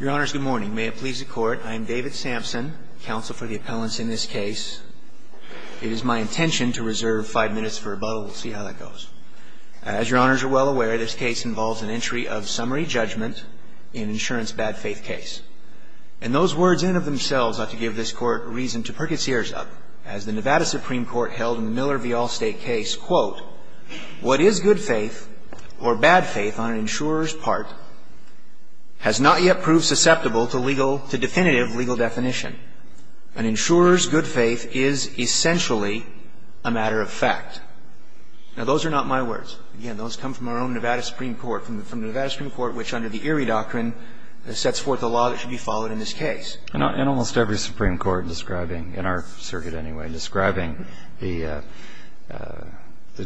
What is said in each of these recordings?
Your Honors, good morning. May it please the Court, I am David Sampson, counsel for the appellants in this case. It is my intention to reserve five minutes for rebuttal. We'll see how that goes. As Your Honors are well aware, this case involves an entry of summary judgment in an insurance bad faith case. And those words in of themselves ought to give this Court reason to perk its ears up, as the Nevada Supreme Court held in the Miller v. Allstate case, quote, What is good faith or bad faith on an insurer's part has a not yet proved susceptible to definitive legal definition. An insurer's good faith is essentially a matter of fact. Now, those are not my words. Again, those come from our own Nevada Supreme Court, from the Nevada Supreme Court, which under the Erie Doctrine sets forth a law that should be followed in this case. And almost every Supreme Court describing, in our circuit anyway, describing the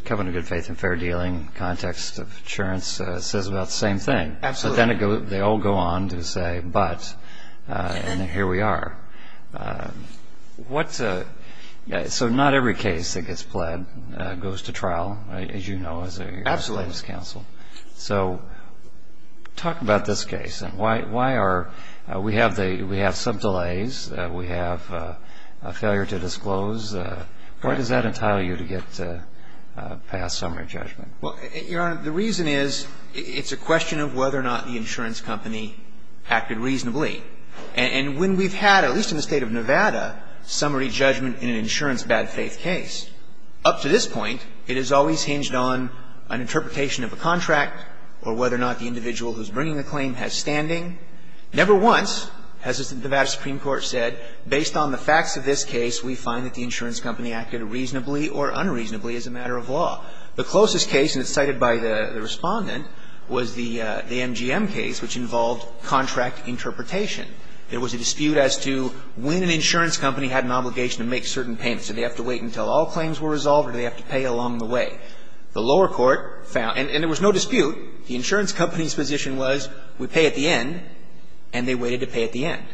covenant of good faith and fair dealing in the context of insurance says about the same thing. Absolutely. So then they all go on to say, but, and here we are. So not every case that gets pled goes to trial, as you know, as a legislative counsel. Absolutely. So talk about this case. We have some delays. We have a failure to disclose. What does that entitle you to get past summary judgment? Well, Your Honor, the reason is, it's a question of whether or not the insurance company acted reasonably. And when we've had, at least in the State of Nevada, summary judgment in an insurance bad faith case, up to this point, it has always hinged on an interpretation of a contract or whether or not the individual who's bringing a claim has standing. Never once has the Nevada Supreme Court said, based on the facts of this case, we find that the insurance company acted reasonably or unreasonably as a matter of law. The closest case, and it's cited by the Respondent, was the MGM case, which involved contract interpretation. There was a dispute as to when an insurance company had an obligation to make certain payments. Do they have to wait until all claims were resolved, or do they have to pay along the way? The lower court found, and there was no dispute, the insurance company's position was, we pay at the end, and they waited to pay at the end.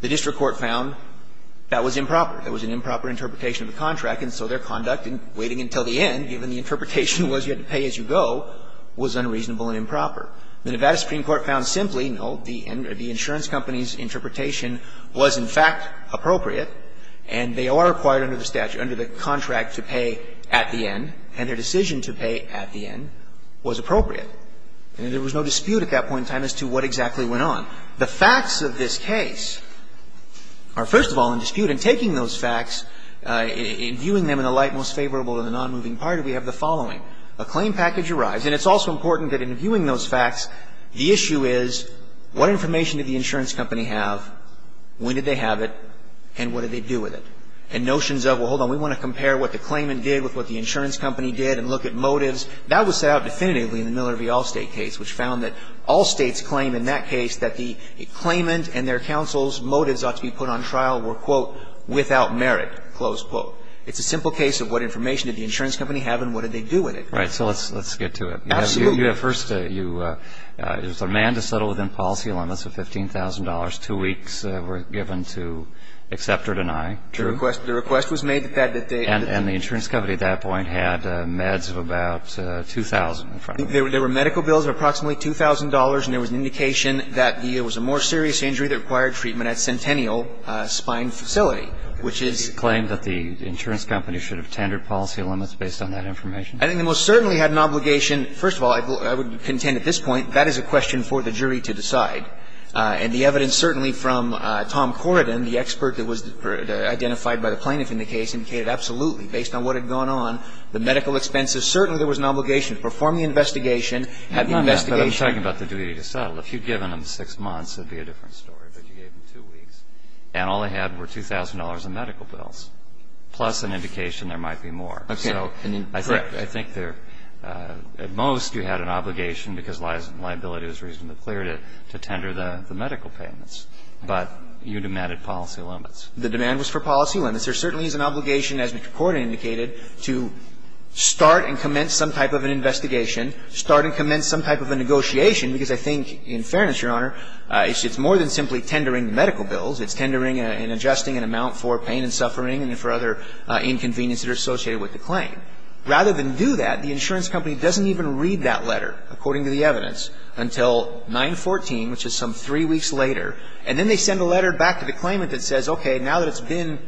The district court found that was improper. There was an improper interpretation of the contract, and so their conduct in waiting until the end, given the interpretation was you had to pay as you go, was unreasonable and improper. The Nevada Supreme Court found simply, no, the insurance company's interpretation was, in fact, appropriate, and they are required under the statute, under the contract to pay at the end, and their decision to pay at the end was appropriate. And there was no dispute at that point in time as to what exactly went on. But in taking those facts, in viewing them in a light most favorable to the nonmoving party, we have the following. A claim package arrives, and it's also important that in viewing those facts, the issue is, what information did the insurance company have, when did they have it, and what did they do with it? And notions of, well, hold on, we want to compare what the claimant did with what the insurance company did, and look at motives, that was set out definitively in the Miller v. Allstate case, which found that Allstate's claim in that case that the claimant and their counsel's motives ought to be put on trial were, quote, without merit, close quote. It's a simple case of what information did the insurance company have, and what did they do with it. Right. So let's get to it. Absolutely. You have first, you, it was a man to settle within policy limits of $15,000. Two weeks were given to accept or deny. True. The request was made that they. And the insurance company at that point had meds of about $2,000 in front of them. There were medical bills of approximately $2,000, and there was an indication that there was a more serious injury that required treatment at Centennial Spine Facility, which is. Did he claim that the insurance company should have tendered policy limits based on that information? I think they most certainly had an obligation. First of all, I would contend at this point, that is a question for the jury to decide. And the evidence certainly from Tom Corridan, the expert that was identified by the plaintiff in the case, indicated absolutely, based on what had gone on, the medical expenses, certainly there was an obligation to perform the investigation, have the investigation. I'm talking about the duty to settle. If you had given them six months, it would be a different story, but you gave them two weeks. And all they had were $2,000 in medical bills, plus an indication there might be more. Okay. And then, correct. I think they're at most, you had an obligation, because liability was reasonably clear, to tender the medical payments. But you demanded policy limits. The demand was for policy limits. There certainly is an obligation, as Mr. Corridan indicated, to start and commence some type of an investigation, start and commence some type of a negotiation, because I think, in fairness, Your Honor, it's more than simply tendering medical bills. It's tendering and adjusting an amount for pain and suffering and for other inconveniences associated with the claim. Rather than do that, the insurance company doesn't even read that letter, according to the evidence, until 9-14, which is some three weeks later, and then they send a letter back to the claimant that says, okay, now that it's been,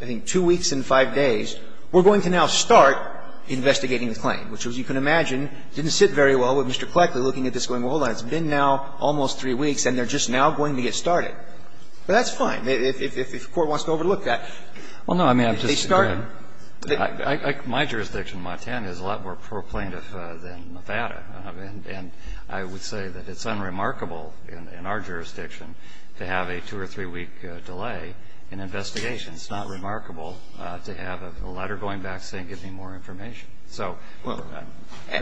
I think, two weeks and the claim, which, as you can imagine, didn't sit very well with Mr. Cleckley looking at this going, well, hold on, it's been now almost three weeks and they're just now going to get started. But that's fine. If the Court wants to overlook that, they start it. I mean, I'm just, again, my jurisdiction, Montana, is a lot more pro-plaintiff than Nevada. And I would say that it's unremarkable in our jurisdiction to have a two- or three-week delay in investigation. It's not remarkable to have a letter going back saying, give me more information. So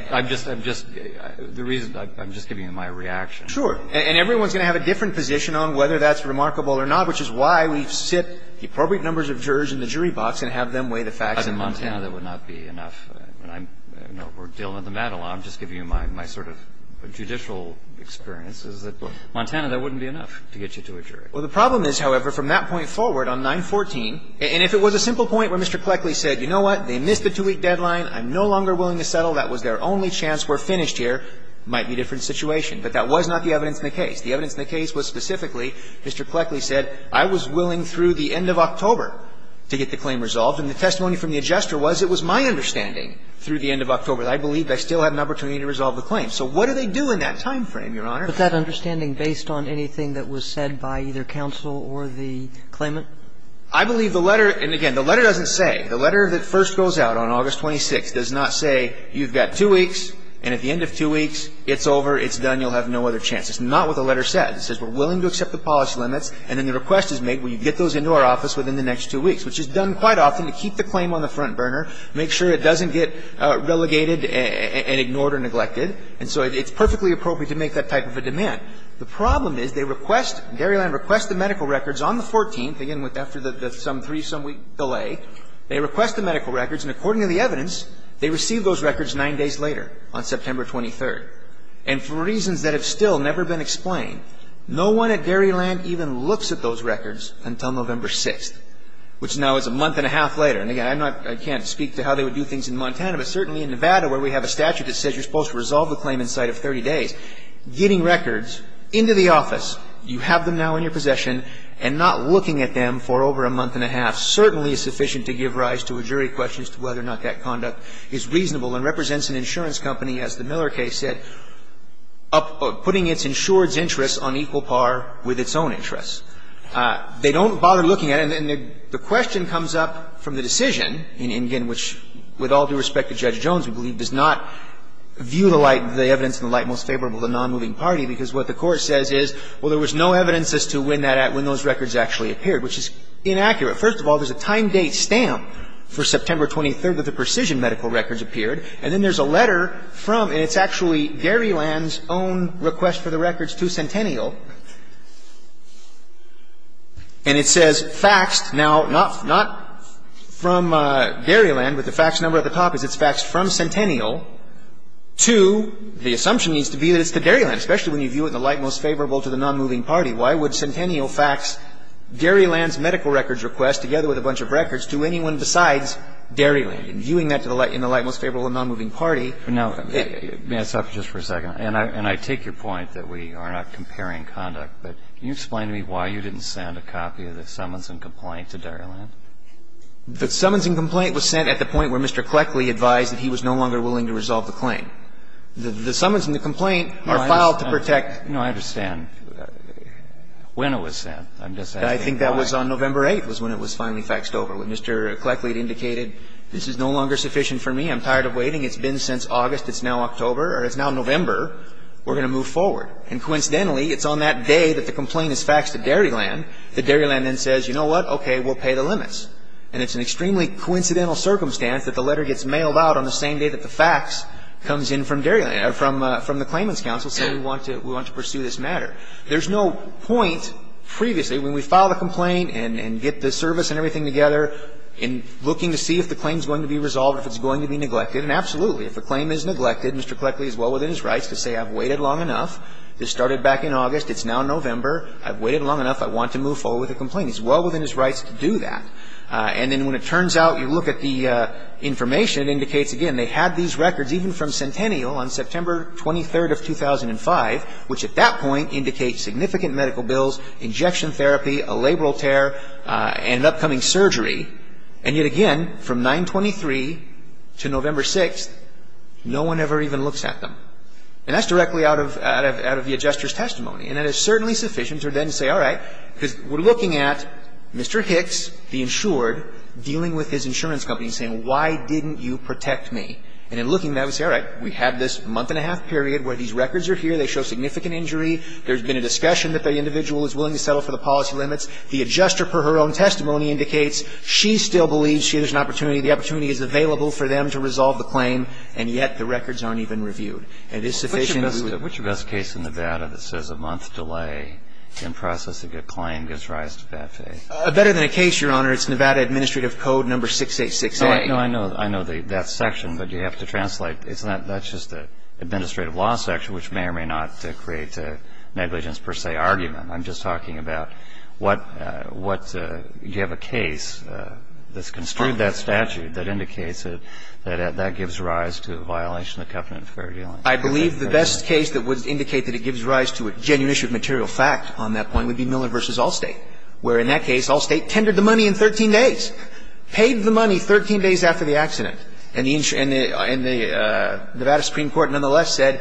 I'm just, I'm just, the reason, I'm just giving you my reaction. Sure. And everyone's going to have a different position on whether that's remarkable or not, which is why we sit the appropriate numbers of jurors in the jury box and have them weigh the facts in Montana. But in Montana, that would not be enough. We're dealing with the Madelon. I'm just giving you my sort of judicial experience, is that Montana, that wouldn't be enough to get you to a jury. Well, the problem is, however, from that point forward on 9-14, and if it was a simple point where Mr. Cleckley said, you know what, they missed the two-week deadline, I'm no longer willing to settle, that was their only chance, we're finished here, it might be a different situation. But that was not the evidence in the case. The evidence in the case was specifically, Mr. Cleckley said, I was willing through the end of October to get the claim resolved. And the testimony from the adjuster was, it was my understanding through the end of October that I believed I still had an opportunity to resolve the claim. So what do they do in that time frame, Your Honor? But that understanding based on anything that was said by either counsel or the claimant? I believe the letter, and again, the letter doesn't say, the letter that first goes out on August 26th does not say, you've got two weeks, and at the end of two weeks, it's over, it's done, you'll have no other chance. It's not what the letter says. It says we're willing to accept the policy limits, and then the request is made, will you get those into our office within the next two weeks, which is done quite often to keep the claim on the front burner, make sure it doesn't get relegated and ignored or neglected. And so it's perfectly appropriate to make that type of a demand. The problem is, they request, Dairyland requests the medical records on the 14th, again, after the some three, some week delay. They request the medical records, and according to the evidence, they receive those records nine days later, on September 23rd. And for reasons that have still never been explained, no one at Dairyland even looks at those records until November 6th, which now is a month and a half later. And again, I'm not, I can't speak to how they would do things in Montana, but certainly in Nevada where we have a statute that says you're supposed to resolve the claim inside of 30 days. Getting records into the office, you have them now in your possession, and not looking at them for over a month and a half certainly is sufficient to give rise to a jury question as to whether or not that conduct is reasonable and represents an insurance company, as the Miller case said, putting its insured's interests on equal par with its own interests. They don't bother looking at it. And the question comes up from the decision, in which, with all due respect to Judge Jones, we believe does not view the light, the evidence in the light most favorable to the nonmoving party, because what the Court says is, well, there was no evidence as to when that, when those records actually appeared, which is inaccurate. First of all, there's a time-date stamp for September 23rd that the precision medical records appeared, and then there's a letter from, and it's actually Dairyland's own request for the records to Centennial, and it says faxed. Now, not, not from Dairyland, but the fax number at the top is it's faxed from Centennial to, the assumption needs to be that it's to Dairyland, especially when you view it in the light most favorable to the nonmoving party. Why would Centennial fax Dairyland's medical records request, together with a bunch of records, to anyone besides Dairyland? And viewing that to the light, in the light most favorable to the nonmoving party. Now, may I stop you just for a second? And I, and I take your point that we are not comparing conduct, but can you explain to me why you didn't send a copy of the summons and complaint to Dairyland? The summons and complaint was sent at the point where Mr. Cleckley advised that he was no longer willing to resolve the claim. The summons and the complaint are filed to protect. No, I understand. When, when it was sent, I'm just asking why. I think that was on November 8th, was when it was finally faxed over. When Mr. Cleckley indicated, this is no longer sufficient for me, I'm tired of waiting, it's been since August, it's now October, or it's now November, we're going to move forward. And coincidentally, it's on that day that the complaint is faxed to Dairyland, that Dairyland then says, you know what, okay, we'll pay the limits. And it's an extremely coincidental circumstance that the letter gets mailed out on the same day that the fax comes in from Dairyland, from the Claimants' Counsel, saying we want to pursue this matter. There's no point previously, when we file the complaint and get the service and everything together, in looking to see if the claim is going to be resolved, if it's going to be neglected, and absolutely. If the claim is neglected, Mr. Cleckley is well within his rights to say, I've waited long enough, this started back in August, it's now November, I've waited long enough, I want to move forward with the complaint. He's well within his rights to do that. And then when it turns out, you look at the information, it indicates, again, they had these records even from Centennial on September 23rd of 2005, which at that point indicate significant medical bills, injection therapy, a labral tear, and an upcoming surgery. And yet again, from 9-23 to November 6th, no one ever even looks at them. And that's directly out of the adjuster's testimony. And it is certainly sufficient to then say, all right, because we're looking at Mr. Hicks, the insured, dealing with his insurance company, saying, why didn't you protect me? And in looking at it, we say, all right, we had this month and a half period where these records are here. They show significant injury. There's been a discussion that the individual is willing to settle for the policy limits. The adjuster, per her own testimony, indicates she still believes she has an opportunity, the opportunity is available for them to resolve the claim, and yet the records aren't even reviewed. It is sufficient to do that. Which of us case in Nevada that says a month delay can process a good claim gives rise to bad faith? Better than a case, Your Honor, it's Nevada Administrative Code No. 686A. No, I know. I know that section, but you have to translate. It's not just the administrative law section, which may or may not create negligence per se argument. I'm just talking about what you have a case that's construed that statute that indicates that that gives rise to a violation of the covenant of fair dealing. I believe the best case that would indicate that it gives rise to a genuine issue of material fact on that point would be Miller v. Allstate, where in that case, Allstate tendered the And the Nevada Supreme Court, nonetheless, said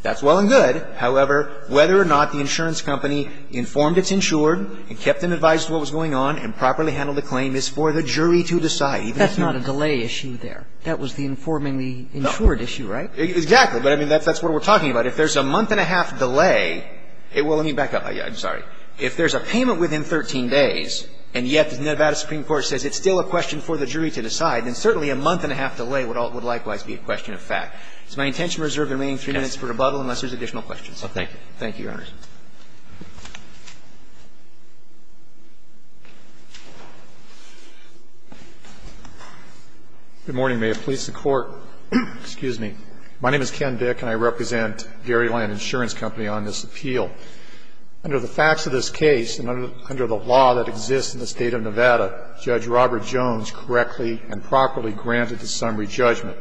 that's well and good. However, whether or not the insurance company informed it's insured and kept and advised what was going on and properly handled the claim is for the jury to decide. That's not a delay issue there. That was the informing the insured issue, right? Exactly. But, I mean, that's what we're talking about. If there's a month and a half delay, it will be back up. I'm sorry. If there's a payment within 13 days, and yet the Nevada Supreme Court says it's still a question for the jury to decide, then certainly a month and a half delay would likewise be a question of fact. It's my intention to reserve the remaining three minutes for rebuttal unless there's additional questions. Thank you. Thank you, Your Honors. Good morning, may it please the Court. Excuse me. My name is Ken Dick, and I represent Garyland Insurance Company on this appeal. Under the facts of this case and under the law that exists in the State of Nevada, Judge Robert Jones correctly and properly granted the summary judgment.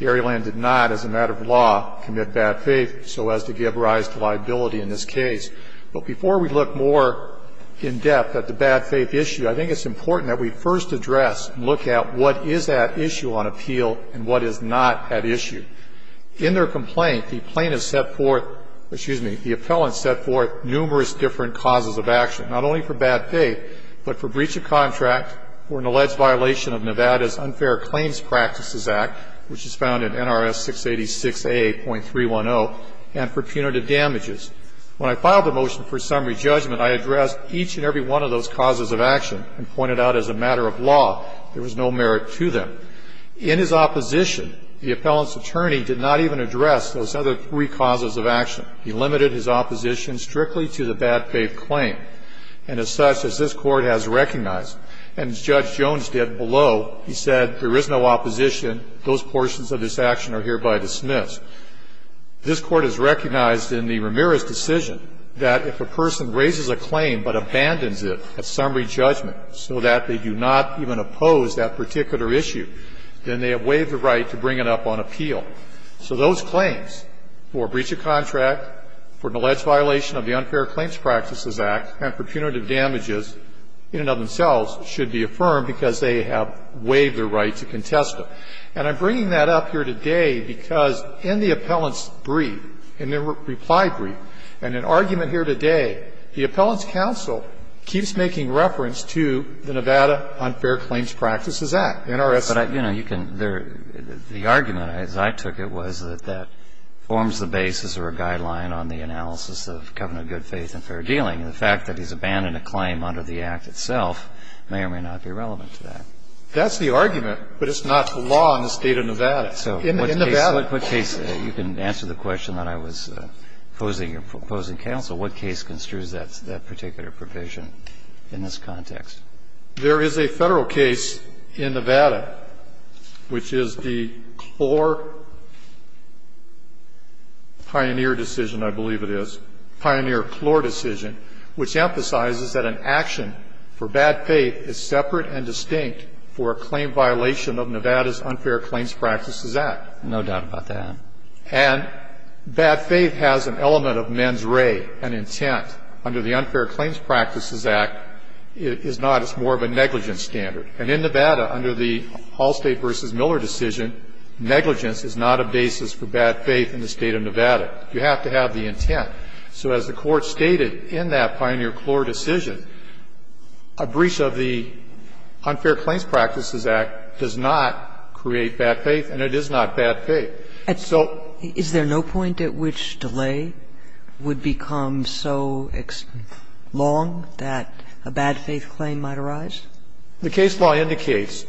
Garyland did not, as a matter of law, commit bad faith so as to give rise to liability in this case. But before we look more in-depth at the bad faith issue, I think it's important that we first address and look at what is at issue on appeal and what is not at issue. In their complaint, the plaintiff set forth, excuse me, the appellant set forth numerous different causes of action, not only for bad faith, but for breach of contract, for an alleged violation of Nevada's Unfair Claims Practices Act, which is found in NRS 686a.310, and for punitive damages. When I filed the motion for summary judgment, I addressed each and every one of those causes of action and pointed out as a matter of law there was no merit to them. In his opposition, the appellant's attorney did not even address those other three causes of action. He limited his opposition strictly to the bad faith claim. And as such, as this Court has recognized, and as Judge Jones did below, he said there is no opposition, those portions of this action are hereby dismissed. This Court has recognized in the Ramirez decision that if a person raises a claim but abandons it at summary judgment so that they do not even oppose that particular issue, then they have waived the right to bring it up on appeal. So those claims for breach of contract, for an alleged violation of the Unfair Claims Practices Act, and for punitive damages in and of themselves should be affirmed because they have waived the right to contest them. And I'm bringing that up here today because in the appellant's brief, in their reply brief, and in argument here today, the appellant's counsel keeps making reference to the Nevada Unfair Claims Practices Act, NRS 686a310. But, you know, you can the argument, as I took it, was that that forms the basis or a guideline on the analysis of covenant of good faith and fair dealing. And the fact that he's abandoned a claim under the Act itself may or may not be relevant to that. That's the argument, but it's not the law in the State of Nevada. In Nevada. So what case you can answer the question that I was posing, opposing counsel, what case construes that particular provision in this context? There is a Federal case in Nevada which is the Clore Pioneer decision, I believe it is, Pioneer-Clore decision, which emphasizes that an action for bad faith is separate and distinct for a claim violation of Nevada's Unfair Claims Practices Act. No doubt about that. And bad faith has an element of mens rea, an intent, under the Unfair Claims Practices Act, is not, it's more of a negligence standard. And in Nevada, under the Allstate v. Miller decision, negligence is not a basis for bad faith in the State of Nevada. You have to have the intent. So as the Court stated in that Pioneer-Clore decision, a breach of the Unfair Claims Practices Act does not create bad faith, and it is not bad faith. And so the case law indicates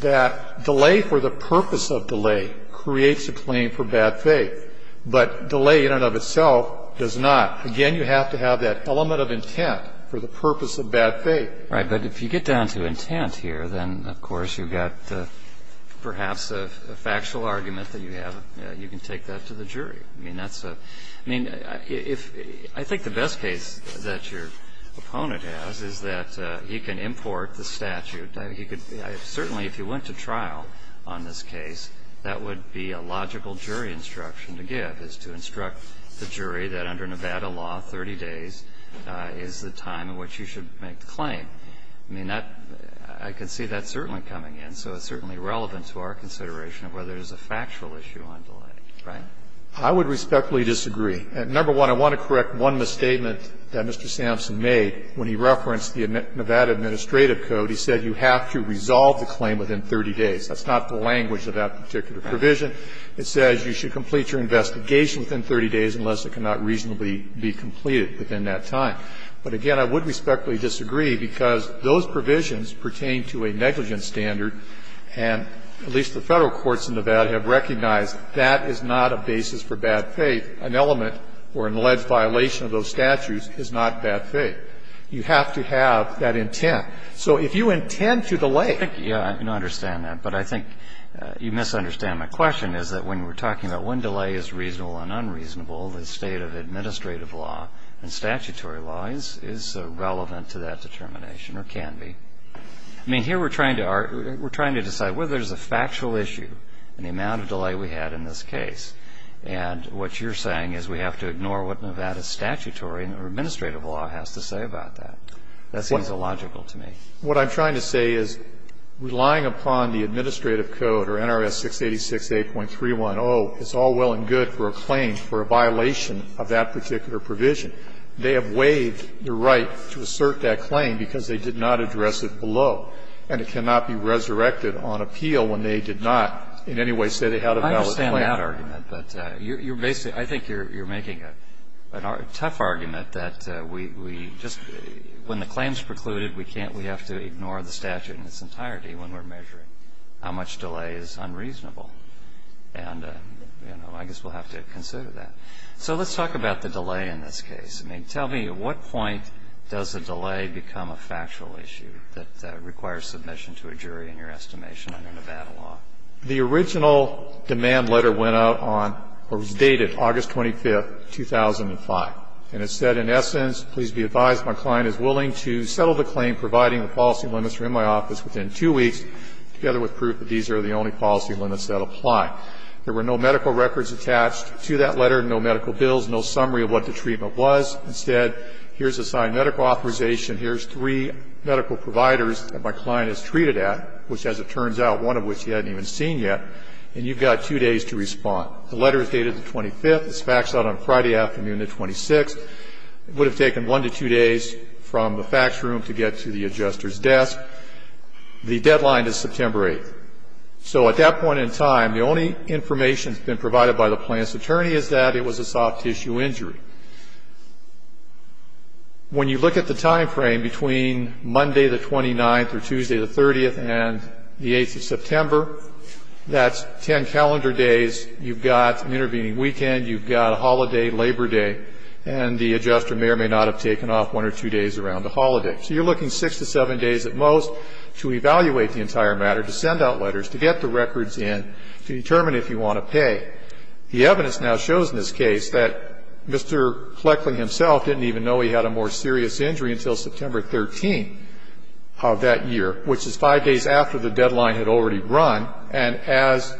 that delay for the purpose of delay creates a claim for bad faith, but delay in and of itself does not. Again, you have to have that element of intent for the purpose of bad faith. Right. But if you get down to intent here, then, of course, you've got perhaps a factual case, and you have, you can take that to the jury. I mean, that's a, I mean, if, I think the best case that your opponent has is that he can import the statute. He could, certainly, if he went to trial on this case, that would be a logical jury instruction to give, is to instruct the jury that under Nevada law, 30 days is the time in which you should make the claim. I mean, that, I can see that certainly coming in, so it's certainly relevant to our consideration of whether there's a factual issue on delay, right? I would respectfully disagree. Number one, I want to correct one misstatement that Mr. Sampson made when he referenced the Nevada Administrative Code. He said you have to resolve the claim within 30 days. That's not the language of that particular provision. It says you should complete your investigation within 30 days unless it cannot reasonably be completed within that time. But again, I would respectfully disagree, because those provisions pertain to a negligence standard, and at least the Federal courts in Nevada have recognized that is not a basis for bad faith. An element or an alleged violation of those statutes is not bad faith. You have to have that intent. So if you intend to delay. I think you understand that, but I think you misunderstand my question, is that when we're talking about when delay is reasonable and unreasonable, the state of administrative law and statutory law is relevant to that determination or can be. I mean, here we're trying to decide whether there's a factual issue in the amount of delay we had in this case. And what you're saying is we have to ignore what Nevada's statutory or administrative law has to say about that. That seems illogical to me. What I'm trying to say is relying upon the Administrative Code or NRS 686-8.310 is all well and good for a claim for a violation of that particular provision. They have waived the right to assert that claim because they did not address it below. And it cannot be resurrected on appeal when they did not in any way say they had a valid claim. I understand that argument, but you're basically – I think you're making a tough argument that we just – when the claim is precluded, we can't – we have to ignore the statute in its entirety when we're measuring how much delay is unreasonable. And, you know, I guess we'll have to consider that. So let's talk about the delay in this case. I mean, tell me, at what point does a delay become a factual issue that requires submission to a jury in your estimation under Nevada law? The original demand letter went out on – or was dated August 25th, 2005. And it said, in essence, please be advised my client is willing to settle the claim providing the policy limits are in my office within two weeks, together with proof that these are the only policy limits that apply. There were no medical records attached to that letter, no medical bills, no summary of what the treatment was. Instead, here's a signed medical authorization. Here's three medical providers that my client is treated at, which, as it turns out, one of which he hadn't even seen yet, and you've got two days to respond. The letter is dated the 25th. It's faxed out on Friday afternoon the 26th. It would have taken one to two days from the fax room to get to the adjuster's desk. The deadline is September 8th. So at that point in time, the only information that's been provided by the plaintiff's attorney is that it was a soft tissue injury. When you look at the timeframe between Monday the 29th or Tuesday the 30th and the 8th of September, that's ten calendar days. You've got an intervening weekend. You've got a holiday, Labor Day, and the adjuster may or may not have taken off one or two days around the holiday. So you're looking six to seven days at most to evaluate the entire matter, to send out letters, to get the records in, to determine if you want to pay. The evidence now shows in this case that Mr. Cleckley himself didn't even know he had a more serious injury until September 13th of that year, which is five days after the deadline had already run, and as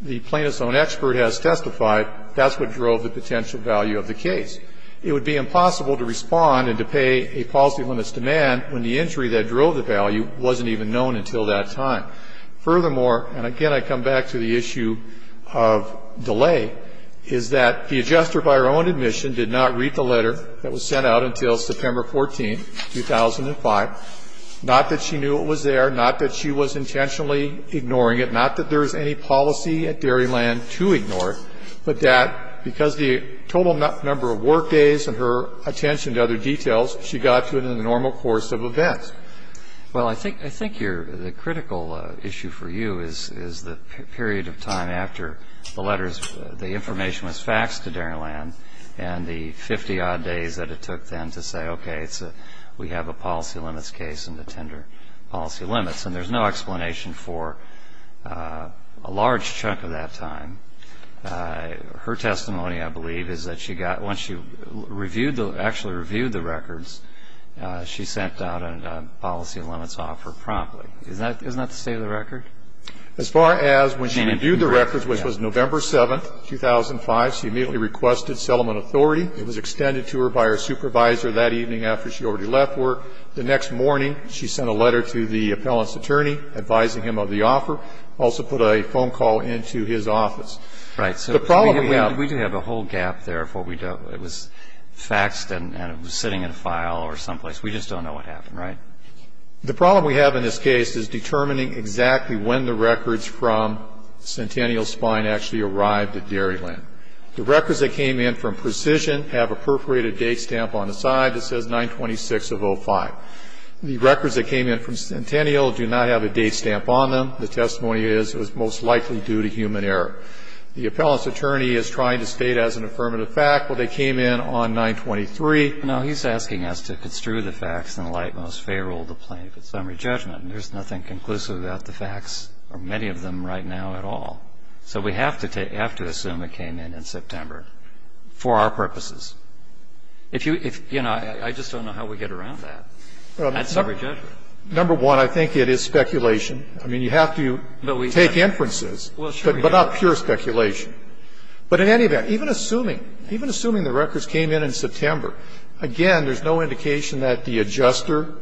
the plaintiff's own expert has testified, that's what drove the potential value of the case. It would be impossible to respond and to pay a policy limits demand when the injury that drove the value wasn't even known until that time. Furthermore, and again I come back to the issue of delay, is that the adjuster by her own admission did not read the letter that was sent out until September 14th, 2005, not that she knew it was there, not that she was intentionally ignoring it, not that there was any policy at Dairyland to ignore it, but that because the total number of work days and her attention to other details, she got to it in the normal course of events. Well, I think the critical issue for you is the period of time after the letters, the information was faxed to Dairyland, and the 50 odd days that it took then to say, okay, we have a policy limits case in the tender, policy limits, and there's no explanation for a large chunk of that time. Her testimony, I believe, is that once she actually reviewed the records, she sent out a policy limits offer promptly. Isn't that the state of the record? As far as when she reviewed the records, which was November 7th, 2005, she immediately requested settlement authority. It was extended to her by her supervisor that evening after she already left work. The next morning, she sent a letter to the appellant's attorney advising him of the offer, also put a phone call into his office. Right. So the problem we have We did have a whole gap there. It was faxed and it was sitting in a file or someplace. We just don't know what happened, right? The problem we have in this case is determining exactly when the records from Centennial Spine actually arrived at Dairyland. The records that came in from Precision have a perforated date stamp on the side that says 9-26-05. The records that came in from Centennial do not have a date stamp on them. The testimony is it was most likely due to human error. The appellant's attorney is trying to state as an affirmative fact, well, they came in on 9-23. Now, he's asking us to construe the facts in the light most favorable of the plaintiff at summary judgment, and there's nothing conclusive about the facts or many of them right now at all. So we have to assume it came in in September for our purposes. If you you know, I just don't know how we get around that at summary judgment. Number one, I think it is speculation. I mean, you have to take inferences, but not purely. It's not purely speculation, but in any event, even assuming the records came in in September, again, there's no indication that the adjuster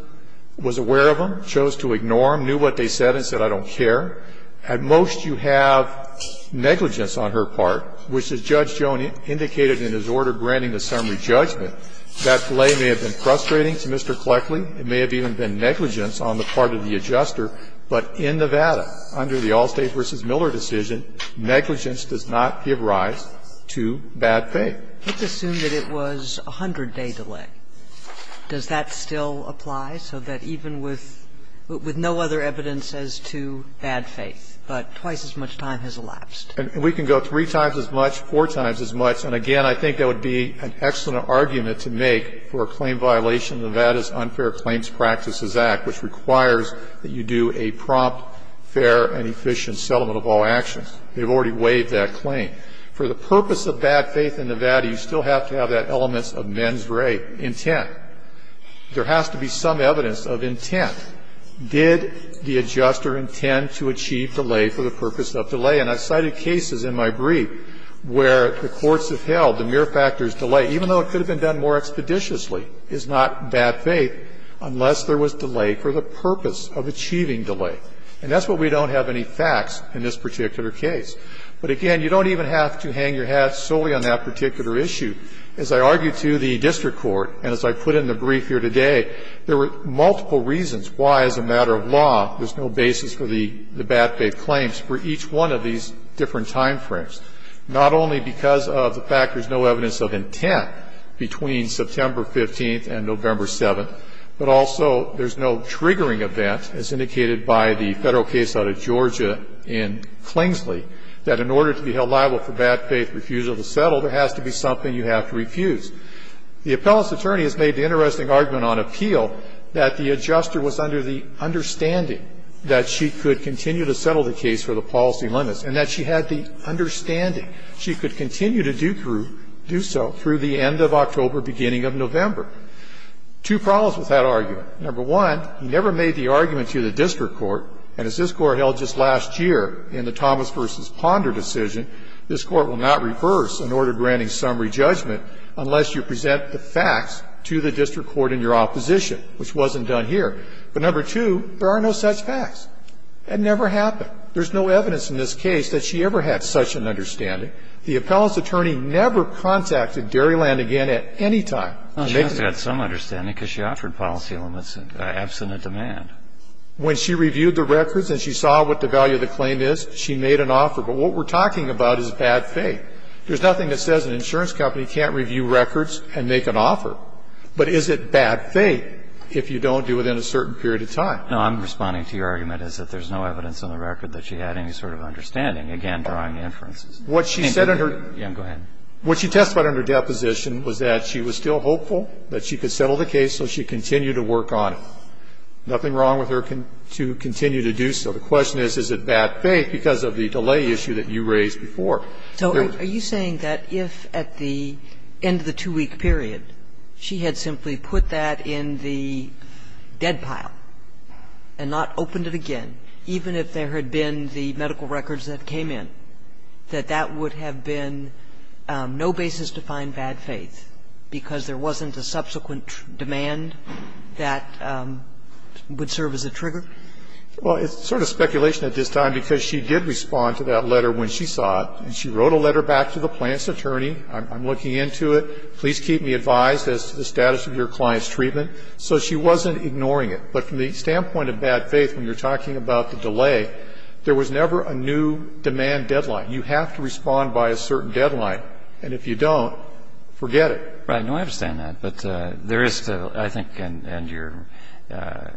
was aware of them, chose to ignore them, knew what they said and said, I don't care. At most, you have negligence on her part, which, as Judge Jones indicated in his order granting the summary judgment, that delay may have been frustrating to Mr. Cleckley. It may have even been negligence on the part of the adjuster, but in Nevada, under the Allstate v. Miller decision, negligence does not give rise to bad faith. Let's assume that it was a 100-day delay. Does that still apply, so that even with no other evidence as to bad faith, but twice as much time has elapsed? We can go three times as much, four times as much, and again, I think that would be an excellent argument to make for a claim violation of Nevada's Unfair Claims Practices Act, which requires that you do a prompt, fair, and efficient settlement of all actions. They've already waived that claim. For the purpose of bad faith in Nevada, you still have to have that elements of mens rea intent. There has to be some evidence of intent. Did the adjuster intend to achieve delay for the purpose of delay? And I've cited cases in my brief where the courts have held the mere factor of delay, even though it could have been done more expeditiously, is not bad faith, unless there was delay for the purpose of achieving delay. And that's why we don't have any facts in this particular case. But again, you don't even have to hang your hat solely on that particular issue. As I argued to the district court, and as I put in the brief here today, there were multiple reasons why, as a matter of law, there's no basis for the bad faith claims for each one of these different time frames, not only because of the fact that there's no evidence of intent between September 15th and November 7th, but also there's no triggering event, as indicated by the Federal case out of Georgia in Clingsley, that in order to be held liable for bad faith refusal to settle, there has to be something you have to refuse. The appellant's attorney has made the interesting argument on appeal that the adjuster was under the understanding that she could continue to settle the case for the policy limits, and that she had the understanding she could continue to do so through the end of October, beginning of November. Two problems with that argument. Number one, he never made the argument to the district court, and as this Court held just last year in the Thomas v. Ponder decision, this Court will not reverse an order granting summary judgment unless you present the facts to the district court in your opposition, which wasn't done here. But number two, there are no such facts. That never happened. There's no evidence in this case that she ever had such an understanding. The appellant's attorney never contacted Dairyland again at any time. Kennedy, She has to have some understanding because she offered policy limits in absent demand. When she reviewed the records and she saw what the value of the claim is, she made an offer. But what we're talking about is bad faith. There's nothing that says an insurance company can't review records and make an offer. No, I'm responding to your argument is that there's no evidence in the record that she had any sort of understanding. Again, drawing inferences. What she said in her What she testified in her deposition was that she was still hopeful that she could settle the case so she could continue to work on it. Nothing wrong with her to continue to do so. The question is, is it bad faith because of the delay issue that you raised before? So are you saying that if at the end of the two-week period, she had simply put that in the dead pile and not opened it again, even if there had been the medical records that came in, that that would have been no basis to find bad faith because there wasn't a subsequent demand that would serve as a trigger? Well, it's sort of speculation at this time because she did respond to that letter when she saw it. And she wrote a letter back to the plaintiff's attorney. I'm looking into it. Please keep me advised as to the status of your client's treatment. So she wasn't ignoring it. But from the standpoint of bad faith, when you're talking about the delay, there was never a new demand deadline. You have to respond by a certain deadline. And if you don't, forget it. Right. No, I understand that. But there is still, I think, and your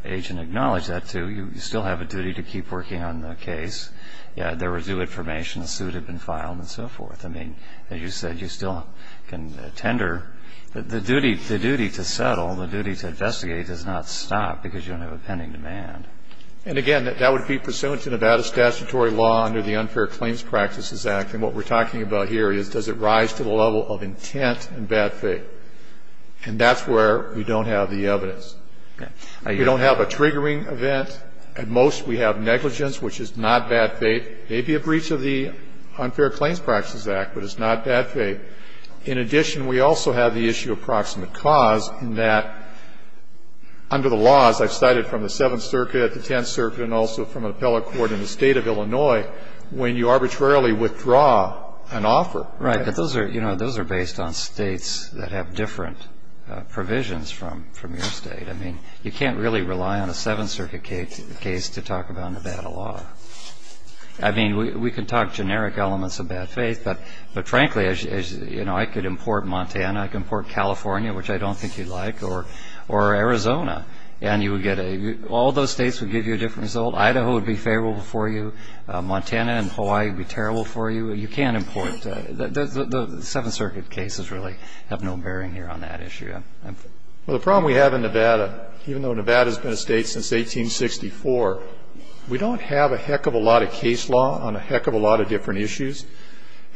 agent acknowledged that, too, you still have a duty to keep working on the case. There was new information, a suit had been filed and so forth. I mean, as you said, you still can tender. The duty to settle, the duty to investigate, does not stop because you don't have a pending demand. And again, that would be pursuant to Nevada statutory law under the Unfair Claims Practices Act. And what we're talking about here is, does it rise to the level of intent and bad faith? And that's where we don't have the evidence. We don't have a triggering event. At most, we have negligence, which is not bad faith. May be a breach of the Unfair Claims Practices Act, but it's not bad faith. In addition, we also have the issue of proximate cause in that, under the laws I've cited from the Seventh Circuit, the Tenth Circuit, and also from an appellate court in the state of Illinois, when you arbitrarily withdraw an offer. Right. But those are, you know, those are based on states that have different provisions from your state. I mean, you can't really rely on a Seventh Circuit case to talk about Nevada law. I mean, we can talk generic elements of bad faith, but frankly, as you know, I could import Montana. I can import California, which I don't think you'd like, or Arizona. And you would get a, all those states would give you a different result. Idaho would be favorable for you. Montana and Hawaii would be terrible for you. You can't import, the Seventh Circuit cases really have no bearing here on that issue. Well, the problem we have in Nevada, even though Nevada's been a state since 1864, we don't have a heck of a lot of case law on a heck of a lot of different issues.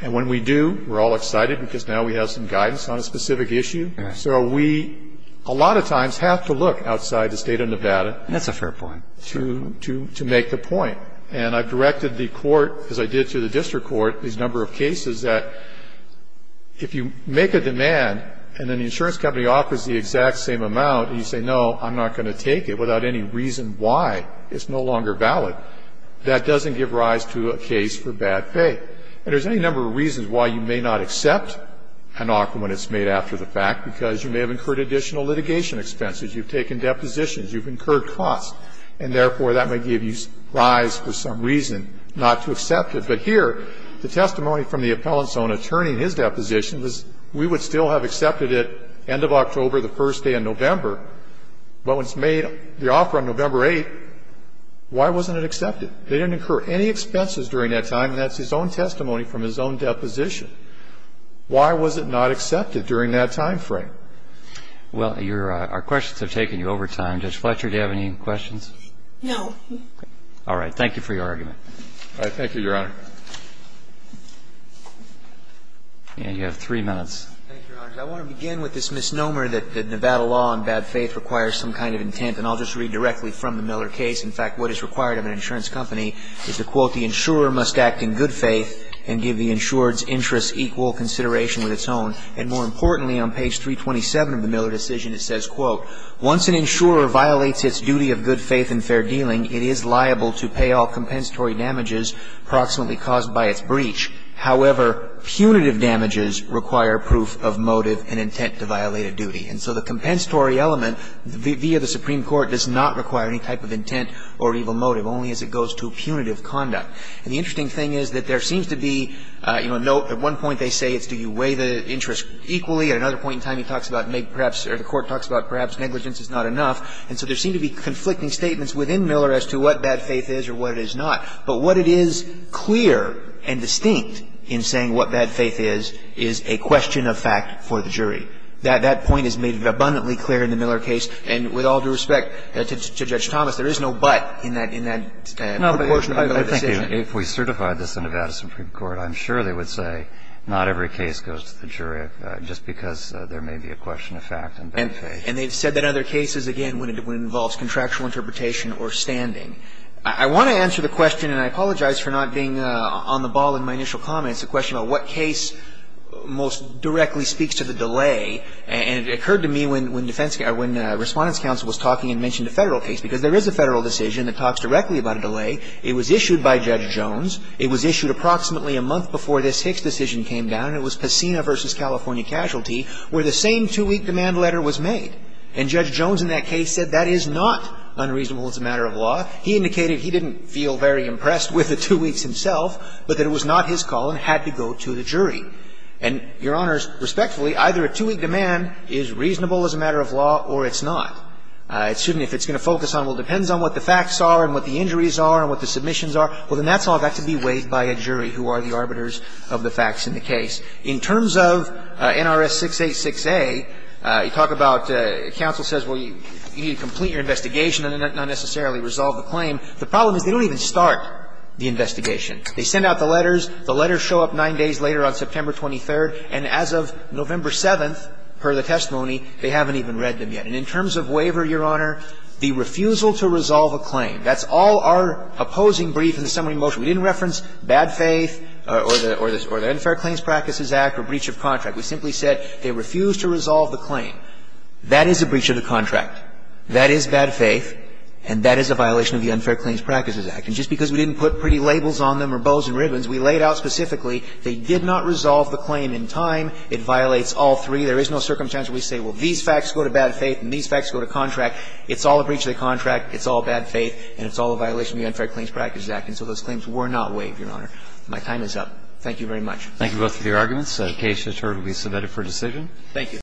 And when we do, we're all excited because now we have some guidance on a specific issue. So we, a lot of times, have to look outside the state of Nevada. That's a fair point. To make the point. And I've directed the court, as I did to the district court, these number of cases that if you make a demand, and then the insurance company offers the exact same amount, and you say, no, I'm not going to take it without any reason why. It's no longer valid. That doesn't give rise to a case for bad faith. And there's any number of reasons why you may not accept an offer when it's made after the fact, because you may have incurred additional litigation expenses. You've taken depositions. You've incurred costs. And therefore, that may give you rise for some reason not to accept it. But here, the testimony from the appellant's own attorney in his deposition was, we would still have accepted it end of October, the first day in November. But when it's made, the offer on November 8th, why wasn't it accepted? They didn't incur any expenses during that time. And that's his own testimony from his own deposition. Why was it not accepted during that time frame? Well, your, our questions have taken you over time. Judge Fletcher, do you have any questions? No. All right. Thank you for your argument. All right. Thank you, Your Honor. And you have three minutes. Thank you, Your Honor. I want to begin with this misnomer that the Nevada law on bad faith requires some kind of intent. And I'll just read directly from the Miller case. In fact, what is required of an insurance company is to, quote, ''The insurer must act in good faith and give the insured's interests equal consideration with its own.'' And more importantly, on page 327 of the Miller decision, it says, quote, ''Once an insurer violates its duty of good faith and fair dealing, it is liable to pay all compensatory damages approximately caused by its breach. However, punitive damages require proof of motive and intent to violate a duty.'' And so the compensatory element via the Supreme Court does not require any type of intent or evil motive, only as it goes to punitive conduct. And the interesting thing is that there seems to be, you know, no at one point they say it's do you weigh the interest equally. At another point in time, he talks about maybe perhaps or the Court talks about perhaps negligence is not enough. And so there seem to be conflicting statements within Miller as to what bad faith is or what it is not. But what it is clear and distinct in saying what bad faith is, is a question of fact for the jury. That point is made abundantly clear in the Miller case. And with all due respect to Judge Thomas, there is no but in that proportion of the decision. No, but I think if we certified this in Nevada Supreme Court, I'm sure they would say not every case goes to the jury just because there may be a question of fact and bad faith. And they've said that other cases, again, when it involves contractual interpretation or standing. I want to answer the question, and I apologize for not being on the ball in my initial comments, the question of what case most directly speaks to the delay. And it occurred to me when defense counsel or when Respondent's counsel was talking and mentioned a Federal case, because there is a Federal decision that talks directly about a delay. It was issued by Judge Jones. It was issued approximately a month before this Hicks decision came down. And it was Pacina v. California Casualty where the same two-week demand letter was made. And Judge Jones in that case said that is not unreasonable as a matter of law. He indicated he didn't feel very impressed with the two weeks himself, but that it was not his call and had to go to the jury. And, Your Honors, respectfully, either a two-week demand is reasonable as a matter of law or it's not. If it's going to focus on, well, it depends on what the facts are and what the injuries are and what the submissions are, well, then that's all got to be weighed by a jury who are the arbiters of the facts in the case. In terms of NRS 686A, you talk about counsel says, well, you need to complete your investigation and not necessarily resolve the claim. The problem is they don't even start the investigation. They send out the letters. The letters show up 9 days later on September 23rd. And as of November 7th, per the testimony, they haven't even read them yet. And in terms of waiver, Your Honor, the refusal to resolve a claim, that's all our opposing brief in the summary motion. We didn't reference bad faith or the Unfair Claims Practices Act or breach of contract. We simply said they refused to resolve the claim. That is a breach of the contract. That is bad faith. And that is a violation of the Unfair Claims Practices Act. And just because we didn't put pretty labels on them or bows and ribbons, we laid out specifically they did not resolve the claim in time, it violates all three. There is no circumstance where we say, well, these facts go to bad faith and these facts go to contract. It's all a breach of the contract. It's all bad faith. And it's all a violation of the Unfair Claims Practices Act. And so those claims were not waived, Your Honor. My time is up. Thank you very much. Thank you both for your arguments. The case has now been submitted for decision. Thank you.